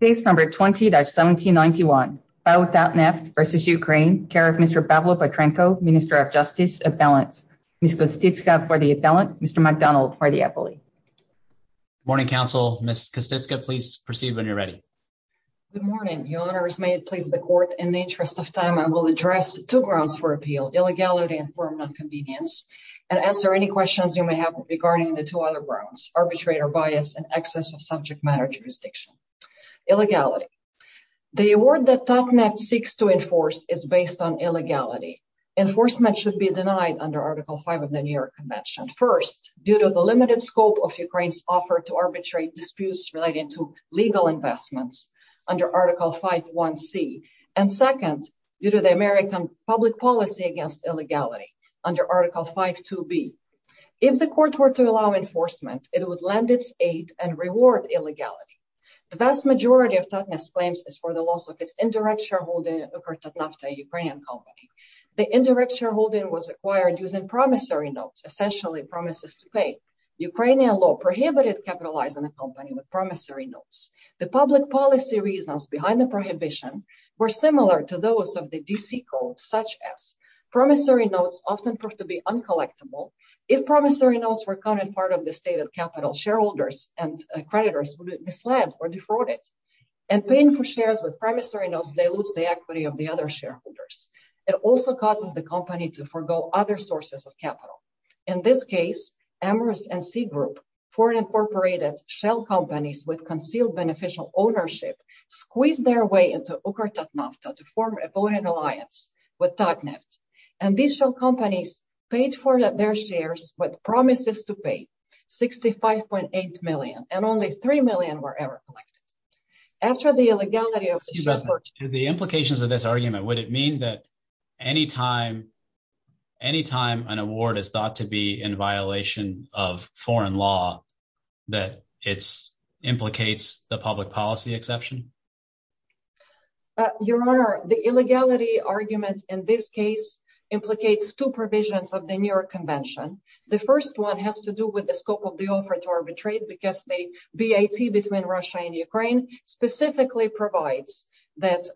Case number 20-1791, Pao Tatneft v. Ukraine, care of Mr. Pavel Petrenko, minister of justice, appellants. Ms. Kostitska for the appellant, Mr. McDonald for the appellee. Good morning, counsel. Ms. Kostitska, please proceed when you're ready. Good morning. Your Honor, as may it please the court, in the interest of time, I will address two grounds for appeal, illegality and firm nonconvenience, and answer any questions you may have regarding the two other grounds, arbitrator bias and excess of subject matter jurisdiction. Illegality. The award that Tatneft seeks to enforce is based on illegality. Enforcement should be denied under Article 5 of the New York Convention, first, due to the limited scope of Ukraine's offer to arbitrate disputes relating to legal investments under Article 5.1c, and second, due to the American public policy against illegality under Article 5.2b. If the vast majority of Tatneft's claims is for the loss of its indirect shareholding of Tatneft, a Ukrainian company, the indirect shareholding was acquired using promissory notes, essentially promises to pay. Ukrainian law prohibited capitalizing a company with promissory notes. The public policy reasons behind the prohibition were similar to those of the D.C. Code, such as promissory notes often proved to be uncollectible. If promissory notes were counted as part of the stated capital, shareholders and creditors would be misled or defrauded, and paying for shares with promissory notes dilutes the equity of the other shareholders. It also causes the company to forgo other sources of capital. In this case, Amherst and C Group, foreign-incorporated shell companies with concealed beneficial ownership, squeezed their way into UkrTatnafta to form a voting alliance with Tatneft, and these shell companies were forced to pay $65.8 million, and only $3 million were ever collected. After the illegality of the shell purchase... Excuse me. To the implications of this argument, would it mean that any time an award is thought to be in violation of foreign law, that it implicates the public policy exception? Your Honor, the illegality argument in this case implicates two provisions of the New York Act. The first one has to do with the scope of the offer to arbitrate, because the BAT between Russia and Ukraine specifically provides that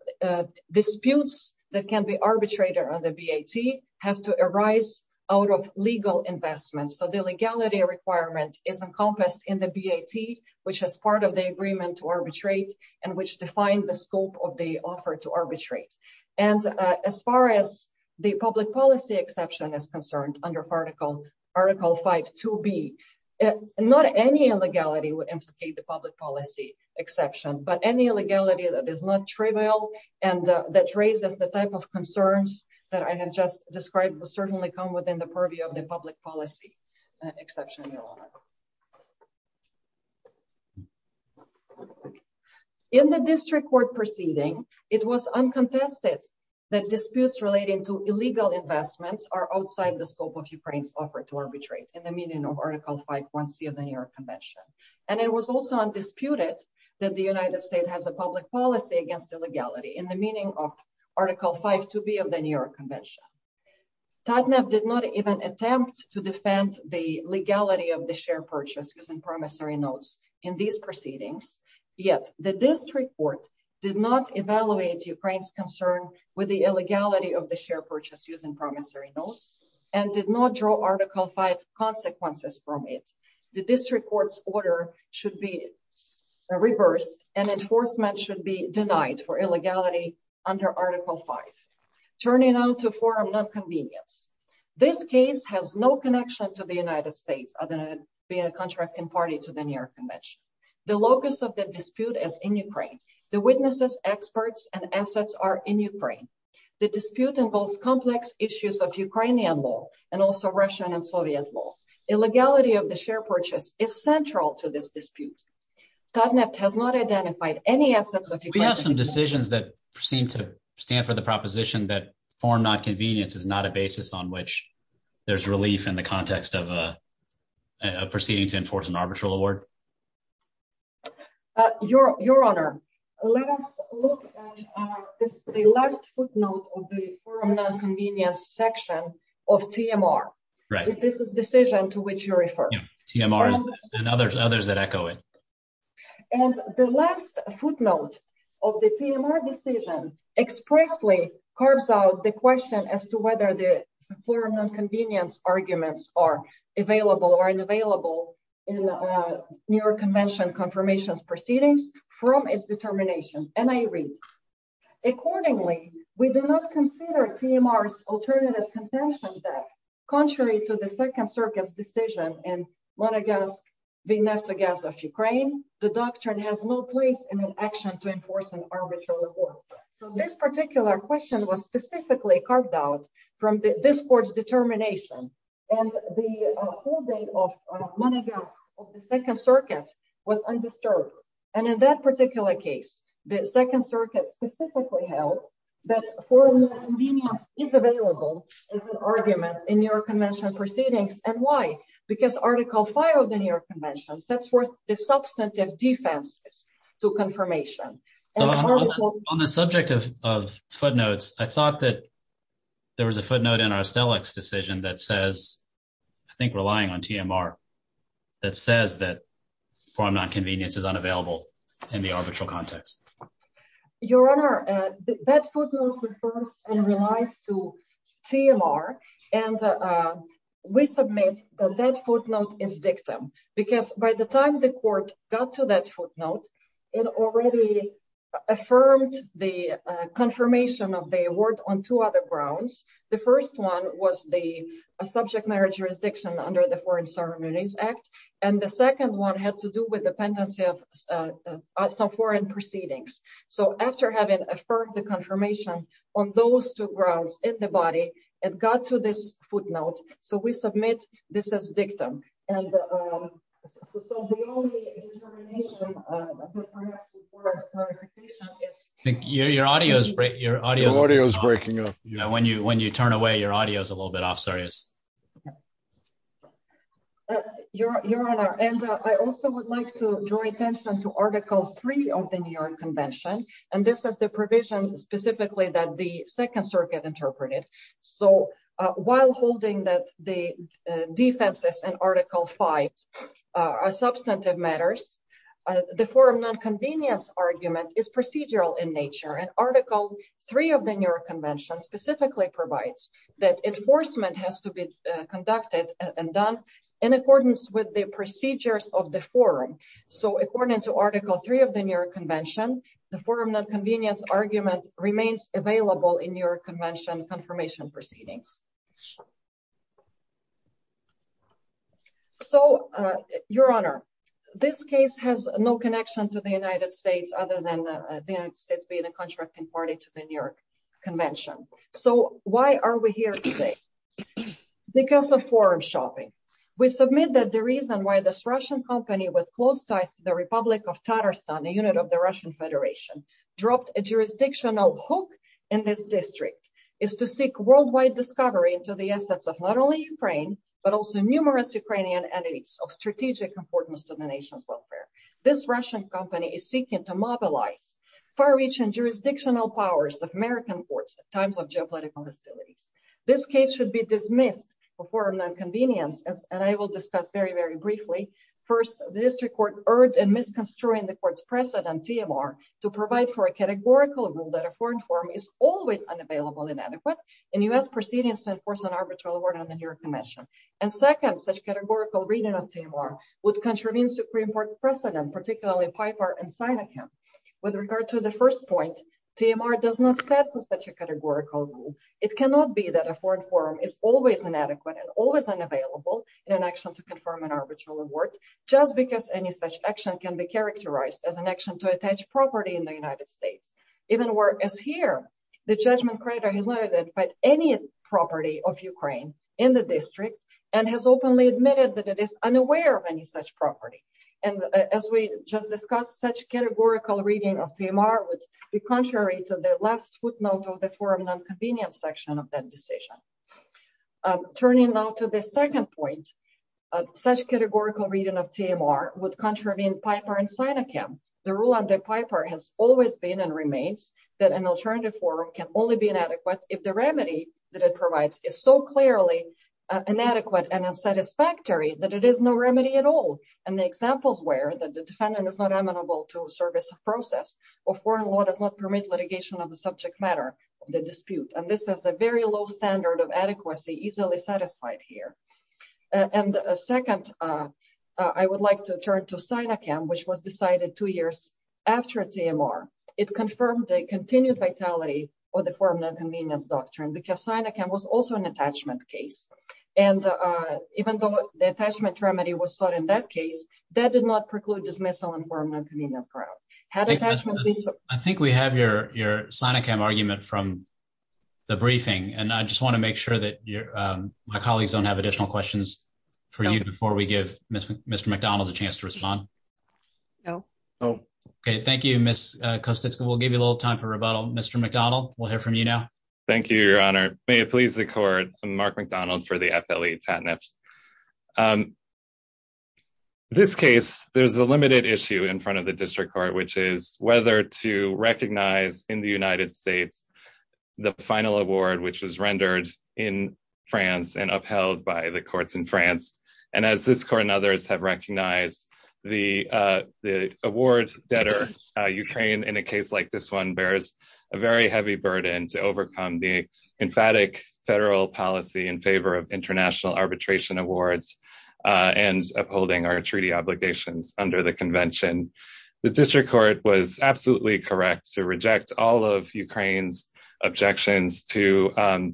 disputes that can be arbitrated on the BAT have to arise out of legal investments. So the legality requirement is encompassed in the BAT, which is part of the agreement to arbitrate, and which defines the scope of the offer to arbitrate. As far as the public policy exception is concerned, under Article 5.2b, not any illegality would implicate the public policy exception, but any illegality that is not trivial and that raises the type of concerns that I have just described will certainly come within the purview of the public policy exception, Your Honor. In the district court proceeding, it was uncontested that disputes relating to illegal investments are outside the scope of Ukraine's offer to arbitrate, in the meaning of Article 5.1c of the New York Convention. And it was also undisputed that the United States has a public policy against illegality, in the meaning of Article 5.2b of the New York Convention. TATNEV did not even attempt to defend the legality of the shareholder's purchase using promissory notes in these proceedings, yet the district court did not evaluate Ukraine's concern with the illegality of the share purchase using promissory notes, and did not draw Article 5.2 consequences from it. The district court's order should be reversed, and enforcement should be denied for illegality under Article 5.2. Turning now to forum non-convenience, this case has no connection to the United States, being a contracting party to the New York Convention. The locus of the dispute is in Ukraine. The witnesses, experts, and assets are in Ukraine. The dispute involves complex issues of Ukrainian law, and also Russian and Soviet law. Illegality of the share purchase is central to this dispute. TATNEV has not identified any assets of Ukraine. We have some decisions that seem to stand for the proposition that forum non-convenience is not a basis on which there's relief in the context of a proceeding to enforce an arbitral award. Your Honor, let us look at the last footnote of the forum non-convenience section of TMR. This is the decision to which you refer. Yeah, TMR and others that echo it. And the last footnote of the TMR decision expressly carves out the question as to whether the forum non-convenience arguments are available or unavailable in the New York Convention confirmation proceedings from its determination. And I agree. Accordingly, we do not consider TMR's alternative contention that, contrary to the Second Circuit's decision in Monegasque v. Naftogaz of Ukraine, the doctrine has no place in an action to enforce an arbitral award. So this particular question was specifically carved out from this court's determination. And the holding of Monegasque of the Second Circuit was undisturbed. And in that particular case, the Second Circuit specifically held that forum non-convenience is available as an argument in New York Convention proceedings. And why? Because Article 5 of the New York Convention. On the subject of footnotes, I thought that there was a footnote in Arstelic's decision that says, I think relying on TMR, that says that forum non-convenience is unavailable in the arbitral context. Your Honor, that footnote refers and relies to TMR. And we submit that that affirmed the confirmation of the award on two other grounds. The first one was the subject marriage jurisdiction under the Foreign Ceremonies Act. And the second one had to do with the pendency of some foreign proceedings. So after having affirmed the confirmation on those two grounds in the body, it got to this footnote. So we submit this as dictum. And so the only determination, I think, perhaps, before a clarification is... Your audio is breaking up. When you turn away, your audio is a little bit off. Sorry. Your Honor, and I also would like to draw attention to Article 3 of the New York Convention. And this is the provision specifically that the Second Circuit interpreted. So while holding that defenses and Article 5 are substantive matters, the forum non-convenience argument is procedural in nature. And Article 3 of the New York Convention specifically provides that enforcement has to be conducted and done in accordance with the procedures of the forum. So according to Article 3 of the New York Convention, the forum non-convenience argument remains available in confirmation proceedings. So, Your Honor, this case has no connection to the United States other than the United States being a contracting party to the New York Convention. So why are we here today? Because of forum shopping. We submit that the reason why this Russian company with close ties to the Republic of Tatarstan, a unit of the Russian Federation, dropped a jurisdictional hook in this district is to seek worldwide discovery into the assets of not only Ukraine, but also numerous Ukrainian entities of strategic importance to the nation's welfare. This Russian company is seeking to mobilize far-reaching jurisdictional powers of American courts at times of geopolitical hostilities. This case should be dismissed for forum non-convenience, and I will discuss very, very briefly. First, the district court urged in misconstruing the court's precedent, TMR, to provide for a categorical rule that a foreign forum is always unavailable and adequate in U.S. proceedings to enforce an arbitral award on the New York Convention. And second, such categorical reading of TMR would contravene Supreme Court precedent, particularly Piper and Sinahan. With regard to the first point, TMR does not set for such a categorical rule. It cannot be that a foreign forum is always inadequate and always unavailable in an action to confirm an arbitral award, just because any such action can be characterized as an action to attach property in the United States. Even whereas here, the judgment crater has not identified any property of Ukraine in the district, and has openly admitted that it is unaware of any such property. And as we just discussed, such categorical reading of TMR would be contrary to the last footnote of the forum non-convenience section of that decision. Turning now to the second point, such categorical reading of TMR would contravene Piper and Sinahan. The rule under Piper has always been and remains that an alternative forum can only be inadequate if the remedy that it provides is so clearly inadequate and unsatisfactory that it is no remedy at all. And the examples were that the defendant is not amenable to service of process, or foreign law does not permit litigation of the subject matter of the dispute. And this is a very low standard of adequacy easily satisfied here. And second, I would like to turn to Sinacam, which was decided two years after TMR. It confirmed a continued vitality of the forum non-convenience doctrine, because Sinacam was also an attachment case. And even though the attachment remedy was sought in that case, that did not preclude dismissal on forum non-convenience grounds. I think we have your Sinacam argument from the briefing, and I just want to make sure that my colleagues don't have additional questions for you before we give Mr. MacDonald a chance to respond. No. Okay, thank you, Ms. Kosticka. We'll give you a little time for rebuttal. Mr. MacDonald, we'll hear from you now. Thank you, your honor. May it please the court, I'm Mark MacDonald for the FLE TATNFs. This case, there's a limited issue in front of the district court, which is whether to recognize in the United States, the final award, which was rendered in France and upheld by the courts in France. And as this court and others have recognized, the award debtor Ukraine in a case like this one bears a very heavy burden to overcome the emphatic federal policy in favor of international arbitration awards and upholding our treaty obligations under the correct to reject all of Ukraine's objections to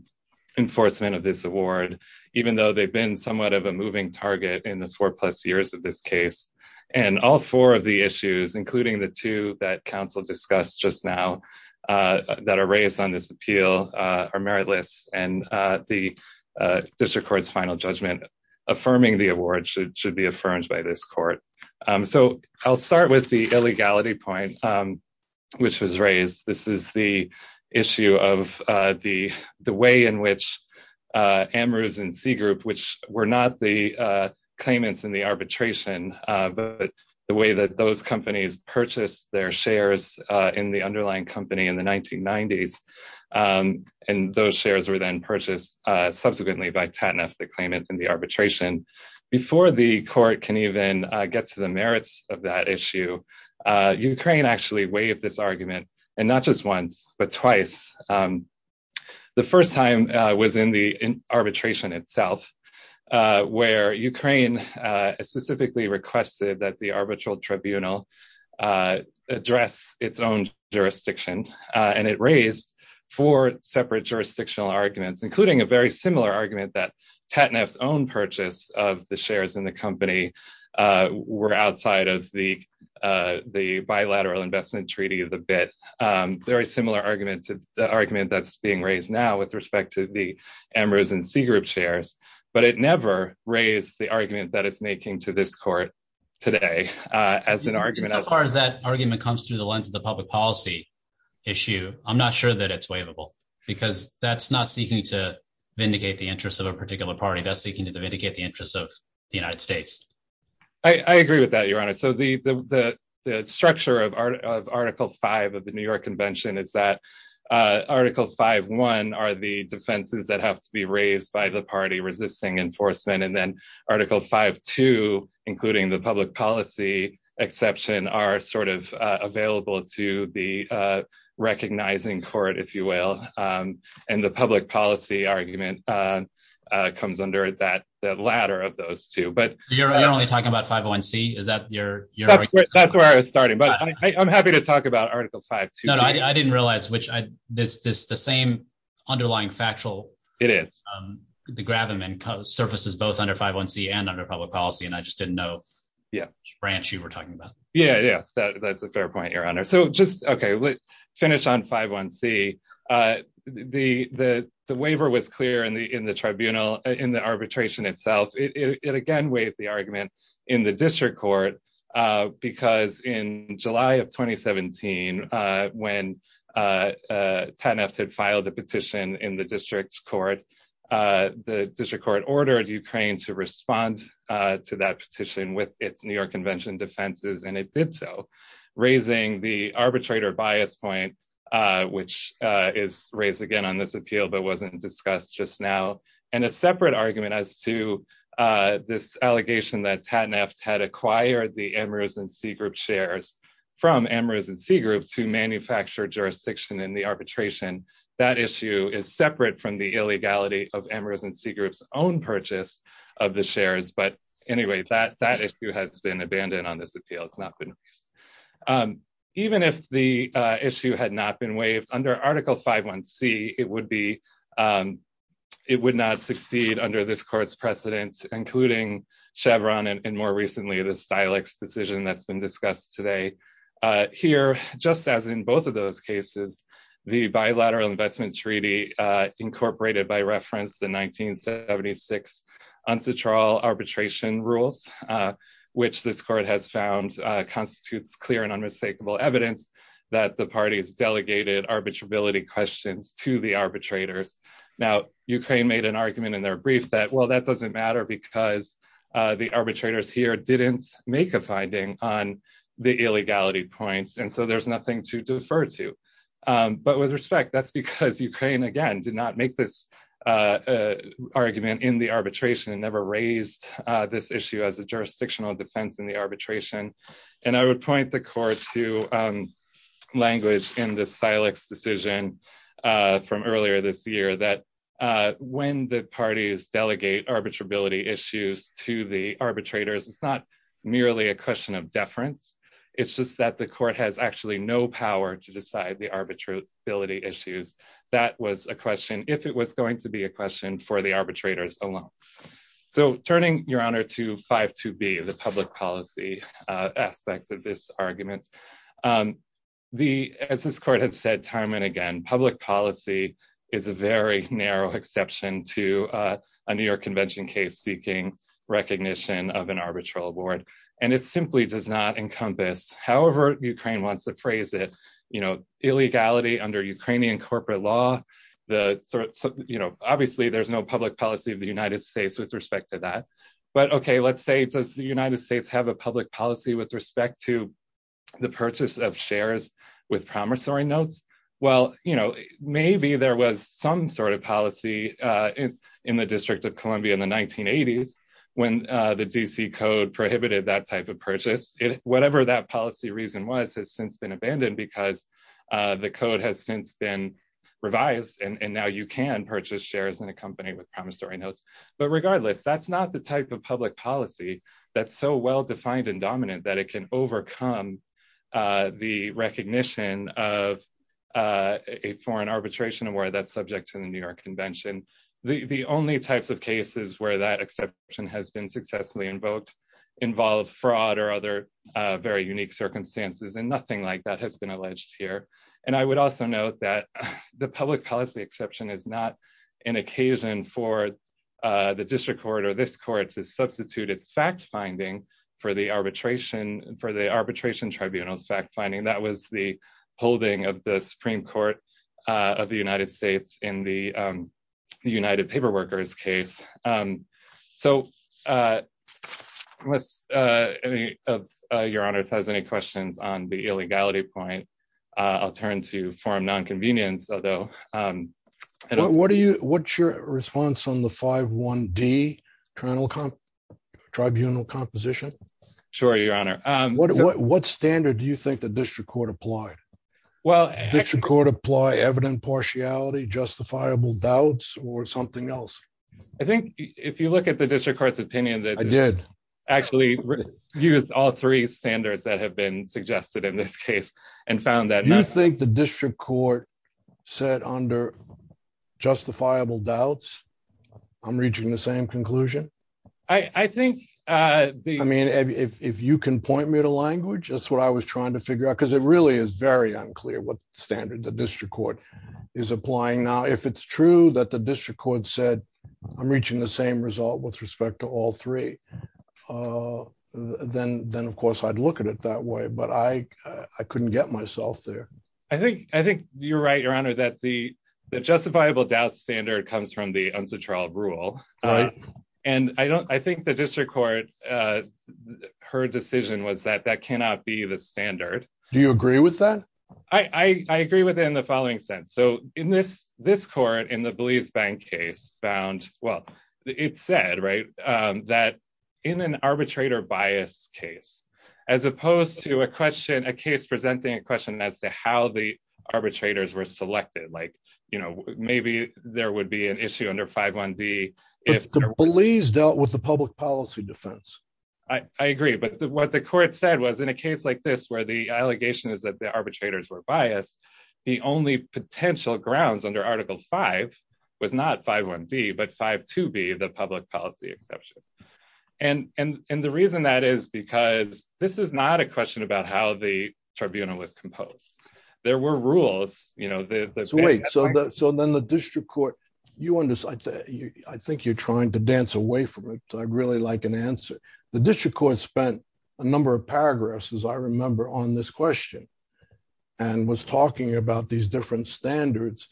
enforcement of this award, even though they've been somewhat of a moving target in the four plus years of this case. And all four of the issues, including the two that counsel discussed just now, that are raised on this appeal, are meritless. And the district court's final judgment affirming the award should be affirmed by this court. So I'll start with the illegality point, which was raised. This is the issue of the way in which Amherst and C group, which were not the claimants in the arbitration, but the way that those companies purchased their shares in the underlying company in the 1990s. And those shares were then purchased subsequently by TATNF, the claimant in the arbitration before the court can even get to the merits of that issue. Ukraine actually waived this argument, and not just once, but twice. The first time was in the arbitration itself, where Ukraine specifically requested that the arbitral tribunal address its own jurisdiction. And it raised four separate jurisdictional arguments, including a very similar argument that TATNF's own purchase of the shares in the company were outside of the bilateral investment treaty of the BIT. Very similar argument that's being raised now with respect to the Amherst and C group shares. But it never raised the argument that it's making to this court today as an argument. As far as that argument comes through the lens of the public policy issue, I'm not sure that it's waivable, because that's not seeking to vindicate the interests of a particular party. That's seeking to vindicate the interests of the United States. I agree with that, Your Honor. So the structure of Article 5 of the New York Convention is that Article 5.1 are the defenses that have to be raised by the party resisting enforcement. And then Article 5.2, including the public policy exception, are sort of available to the recognizing court, if you will. And the public policy argument comes under the latter of those two. You're only talking about 5.1c? That's where I was starting. But I'm happy to talk about Article 5.2. No, I didn't realize the same underlying factual gravamen surfaces both under 5.1c and under public policy. And I just didn't know which branch you were talking about. Yeah, yeah. That's a fair point, Your Honor. So just, okay, let's finish on 5.1c. The waiver was the argument in the district court, because in July of 2017, when TANF had filed a petition in the district court, the district court ordered Ukraine to respond to that petition with its New York Convention defenses, and it did so, raising the arbitrator bias point, which is raised again but wasn't discussed just now. And a separate argument as to this allegation that TANF had acquired the Amherst and Seagroup shares from Amherst and Seagroup to manufacture jurisdiction in the arbitration. That issue is separate from the illegality of Amherst and Seagroup's own purchase of the shares. But anyway, that issue has been abandoned on this appeal. It's not been raised. Even if the issue had not been waived under Article 5.1c, it would not succeed under this court's precedent, including Chevron, and more recently, the Stilix decision that's been discussed today. Here, just as in both of those cases, the bilateral investment treaty incorporated the 1976 arbitration rules, which this court has found constitutes clear and unmistakable evidence that the parties delegated arbitrability questions to the arbitrators. Now, Ukraine made an argument in their brief that, well, that doesn't matter because the arbitrators here didn't make a finding on the illegality points, and so there's nothing to defer to. But with respect, that's because Ukraine, again, did not make this argument in the arbitration and never raised this issue as a jurisdictional defense in the arbitration. And I would point the court to language in the Stilix decision from earlier this year that when the parties delegate arbitrability issues to the arbitrators, it's not merely a question of deference. It's just that the court has actually no power to decide the arbitrability issues. That was a question, if it was going to be a question for the arbitrators alone. So turning, Your Honor, to 5.2b, the public policy aspect of this argument, as this court has said time and again, public policy is a very narrow exception to a New York Convention case seeking recognition of an arbitral board, and it simply does not you know, illegality under Ukrainian corporate law. Obviously, there's no public policy of the United States with respect to that. But okay, let's say, does the United States have a public policy with respect to the purchase of shares with promissory notes? Well, you know, maybe there was some sort of policy in the District of Columbia in the 1980s when the DC Code prohibited that type of because the code has since been revised, and now you can purchase shares in a company with promissory notes. But regardless, that's not the type of public policy that's so well defined and dominant that it can overcome the recognition of a foreign arbitration where that's subject to the New York Convention. The only types of cases where that exception has been successfully invoked involve fraud or other very unique circumstances and nothing like that has been alleged here. And I would also note that the public policy exception is not an occasion for the district court or this court to substitute its fact finding for the arbitration for the arbitration tribunal's fact finding that was the holding of the Supreme Court of the United States in the paperworkers case. So unless any of your honors has any questions on the illegality point, I'll turn to form nonconvenience, although what do you what's your response on the five one D? Tribunal composition? Sure, Your Honor. What standard do you think the district court applied? Well, I think if you look at the district court's opinion that I did actually use all three standards that have been suggested in this case and found that you think the district court said under justifiable doubts, I'm reaching the same conclusion. I think I mean, if you can point me to language, that's what I was trying to figure out, because it really is very unclear what true that the district court said, I'm reaching the same result with respect to all three. Then, then, of course, I'd look at it that way. But I couldn't get myself there. I think I think you're right, Your Honor, that the justifiable doubt standard comes from the answer trial rule. And I don't I think the district court, her decision was that that cannot be the standard. Do you agree with that? I agree with in the following sense. So in this, this court in the Belize bank case found, well, it said, right, that in an arbitrator bias case, as opposed to a question, a case presenting a question as to how the arbitrators were selected, like, you know, maybe there would be an issue under 5.1. d, if Belize dealt with the public policy defense. I agree. But what the court said was in a case like this, where the allegation is that the arbitrators were biased, the only potential grounds under Article five, was not 5.1. d, but 5.2. b, the public policy exception. And, and, and the reason that is, because this is not a question about how the tribunal was composed. There were rules, you know, that wait, so that so then the district court, you want to say, I think you're trying to dance away from it. I'd really like an answer. The district court spent a number of paragraphs, as I remember on this question, and was talking about these different standards.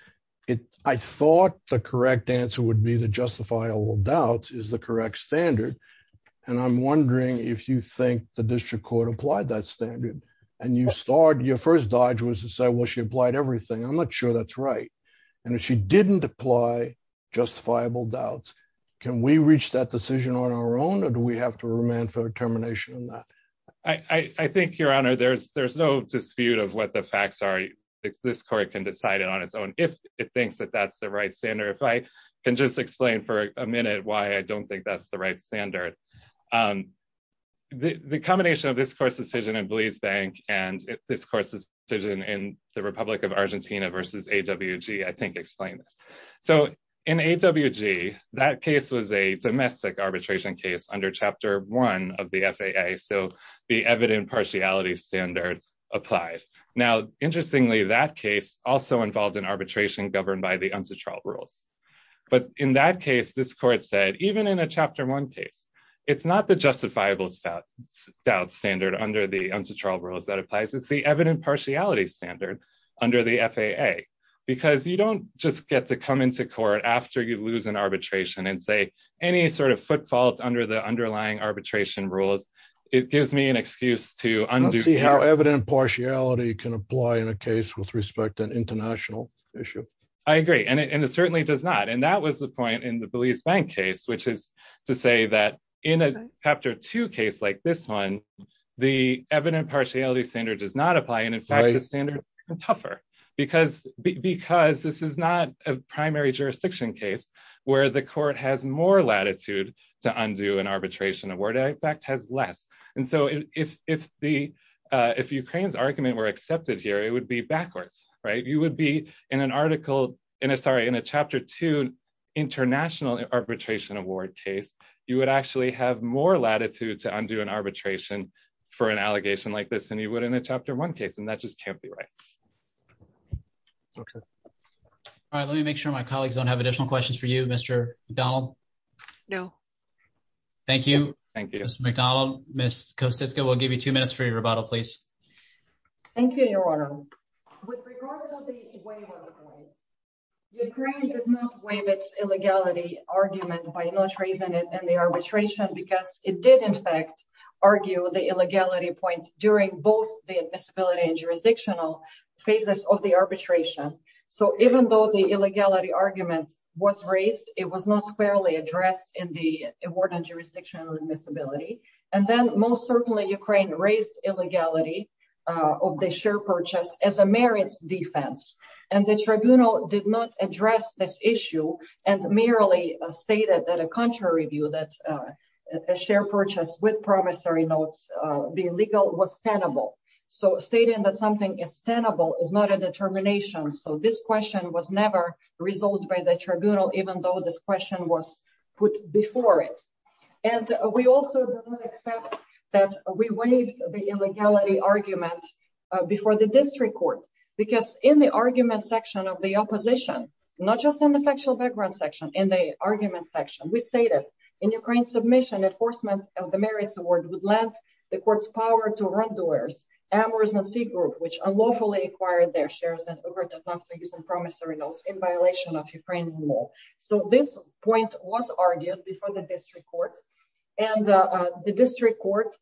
It, I thought the correct answer would be the justifiable doubt is the correct standard. And I'm wondering if you think the district court applied that standard, and you start your first dodge was to say, well, she applied everything. I'm not sure that's right. And if she didn't apply justifiable doubts, can we reach that decision on our own? Or do we have to remand for termination on that? I think Your Honor, there's, there's no dispute of what the facts are. This court can decide it on its own, if it thinks that that's the right standard. If I can just explain for a minute why I don't think that's the right standard. The combination of this court's decision in Belize Bank, and this court's decision in the Republic of Argentina versus AWG, I think explain this. So in AWG, that case was a domestic arbitration case under chapter one of the FAA. So the evident partiality standards applied. Now, interestingly, that case also involved in arbitration governed by the unsuitable rules. But in that case, this court said, even in a chapter one case, it's not the justifiable doubt standard under the unsuitable rules that applies. It's the evident partiality standard under the FAA. Because you don't just get to come into court after you lose an arbitration and say, any sort of footfall under the underlying arbitration rules, it gives me an excuse to undo. Let's see how evident partiality can apply in a case with respect to an international issue. I agree. And it certainly does not. And that was the point in the Belize Bank case, which is to say that in a chapter two case like this one, the evident partiality standard does not apply. And in fact, the standard is tougher. Because this is not a primary jurisdiction case, where the court has more latitude to undo an arbitration award, in fact, has less. And so if Ukraine's argument were accepted here, it would be backwards. You would be in a chapter two international arbitration award case, you would actually have more latitude to undo an arbitration for an allegation like this than you would in a chapter one case. And that just can't be right. Okay. All right. Let me make sure my colleagues don't have additional questions for you, Mr. McDonald. No. Thank you. Thank you, Mr. McDonald. Ms. Kosticka, we'll give you two minutes for your rebuttal, please. Thank you, Your Honor. With regard to the way it was, Ukraine did not waive its illegality argument by not raising it in the arbitration because it did, in fact, argue the illegality point during both the admissibility and jurisdictional phases of the arbitration. So even though the illegality argument was raised, it was not squarely addressed in the award on jurisdictional admissibility. And then most certainly Ukraine raised illegality of the share purchase as a merits defense. And the tribunal did not address this issue and merely stated that a contrary view that a share purchase with promissory notes be illegal was tenable. So stating that something is tenable is not a determination. So this question was never resolved by the tribunal, even though this question was put before it. And we also don't accept that we waived the illegality argument before the district court, because in the argument section of the opposition, not just in the factual background section, in the argument section, we stated in Ukraine's submission, enforcement of the merits award would lend the court's power to run doers, amours and c-group, which unlawfully acquired their shares and overt enough to use promissory notes in violation of Ukraine's law. So this point was argued before the district court and the district court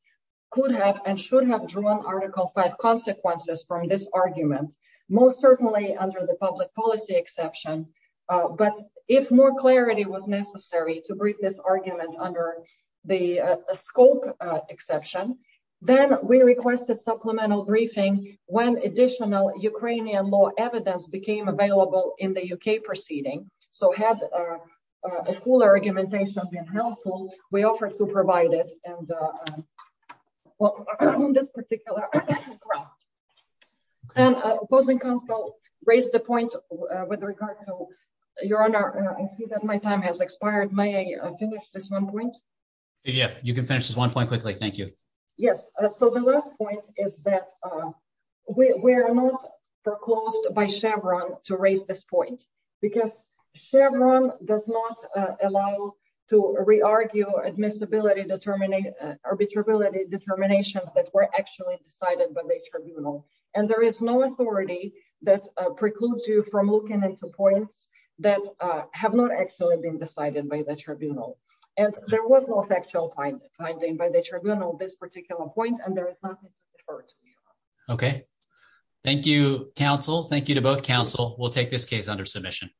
could have and should have drawn article five consequences from this argument, most certainly under the public policy exception. But if more clarity was necessary to brief this argument under the scope exception, then we requested supplemental briefing when additional Ukrainian law evidence became available in the UK proceeding. So had a fuller argumentation been helpful, we offered to provide it. And well, on this particular graph, and opposing counsel raised the point with regard to your honor, I see that my time has expired. May I finish this one point? Yeah, you can finish this one point quickly. Thank you. Yes. So the last point is that we are not foreclosed by Chevron to raise this point, because Chevron does not allow to re-argue admissibility determinate arbitrability determinations that were actually decided by the tribunal. And there is no authority that precludes you from looking into points that have not actually been decided by the tribunal. And there was no factual finding by the tribunal, this particular point, and there is nothing. It hurts me. Okay. Thank you, counsel. Thank you to both counsel. We'll take this case under submission.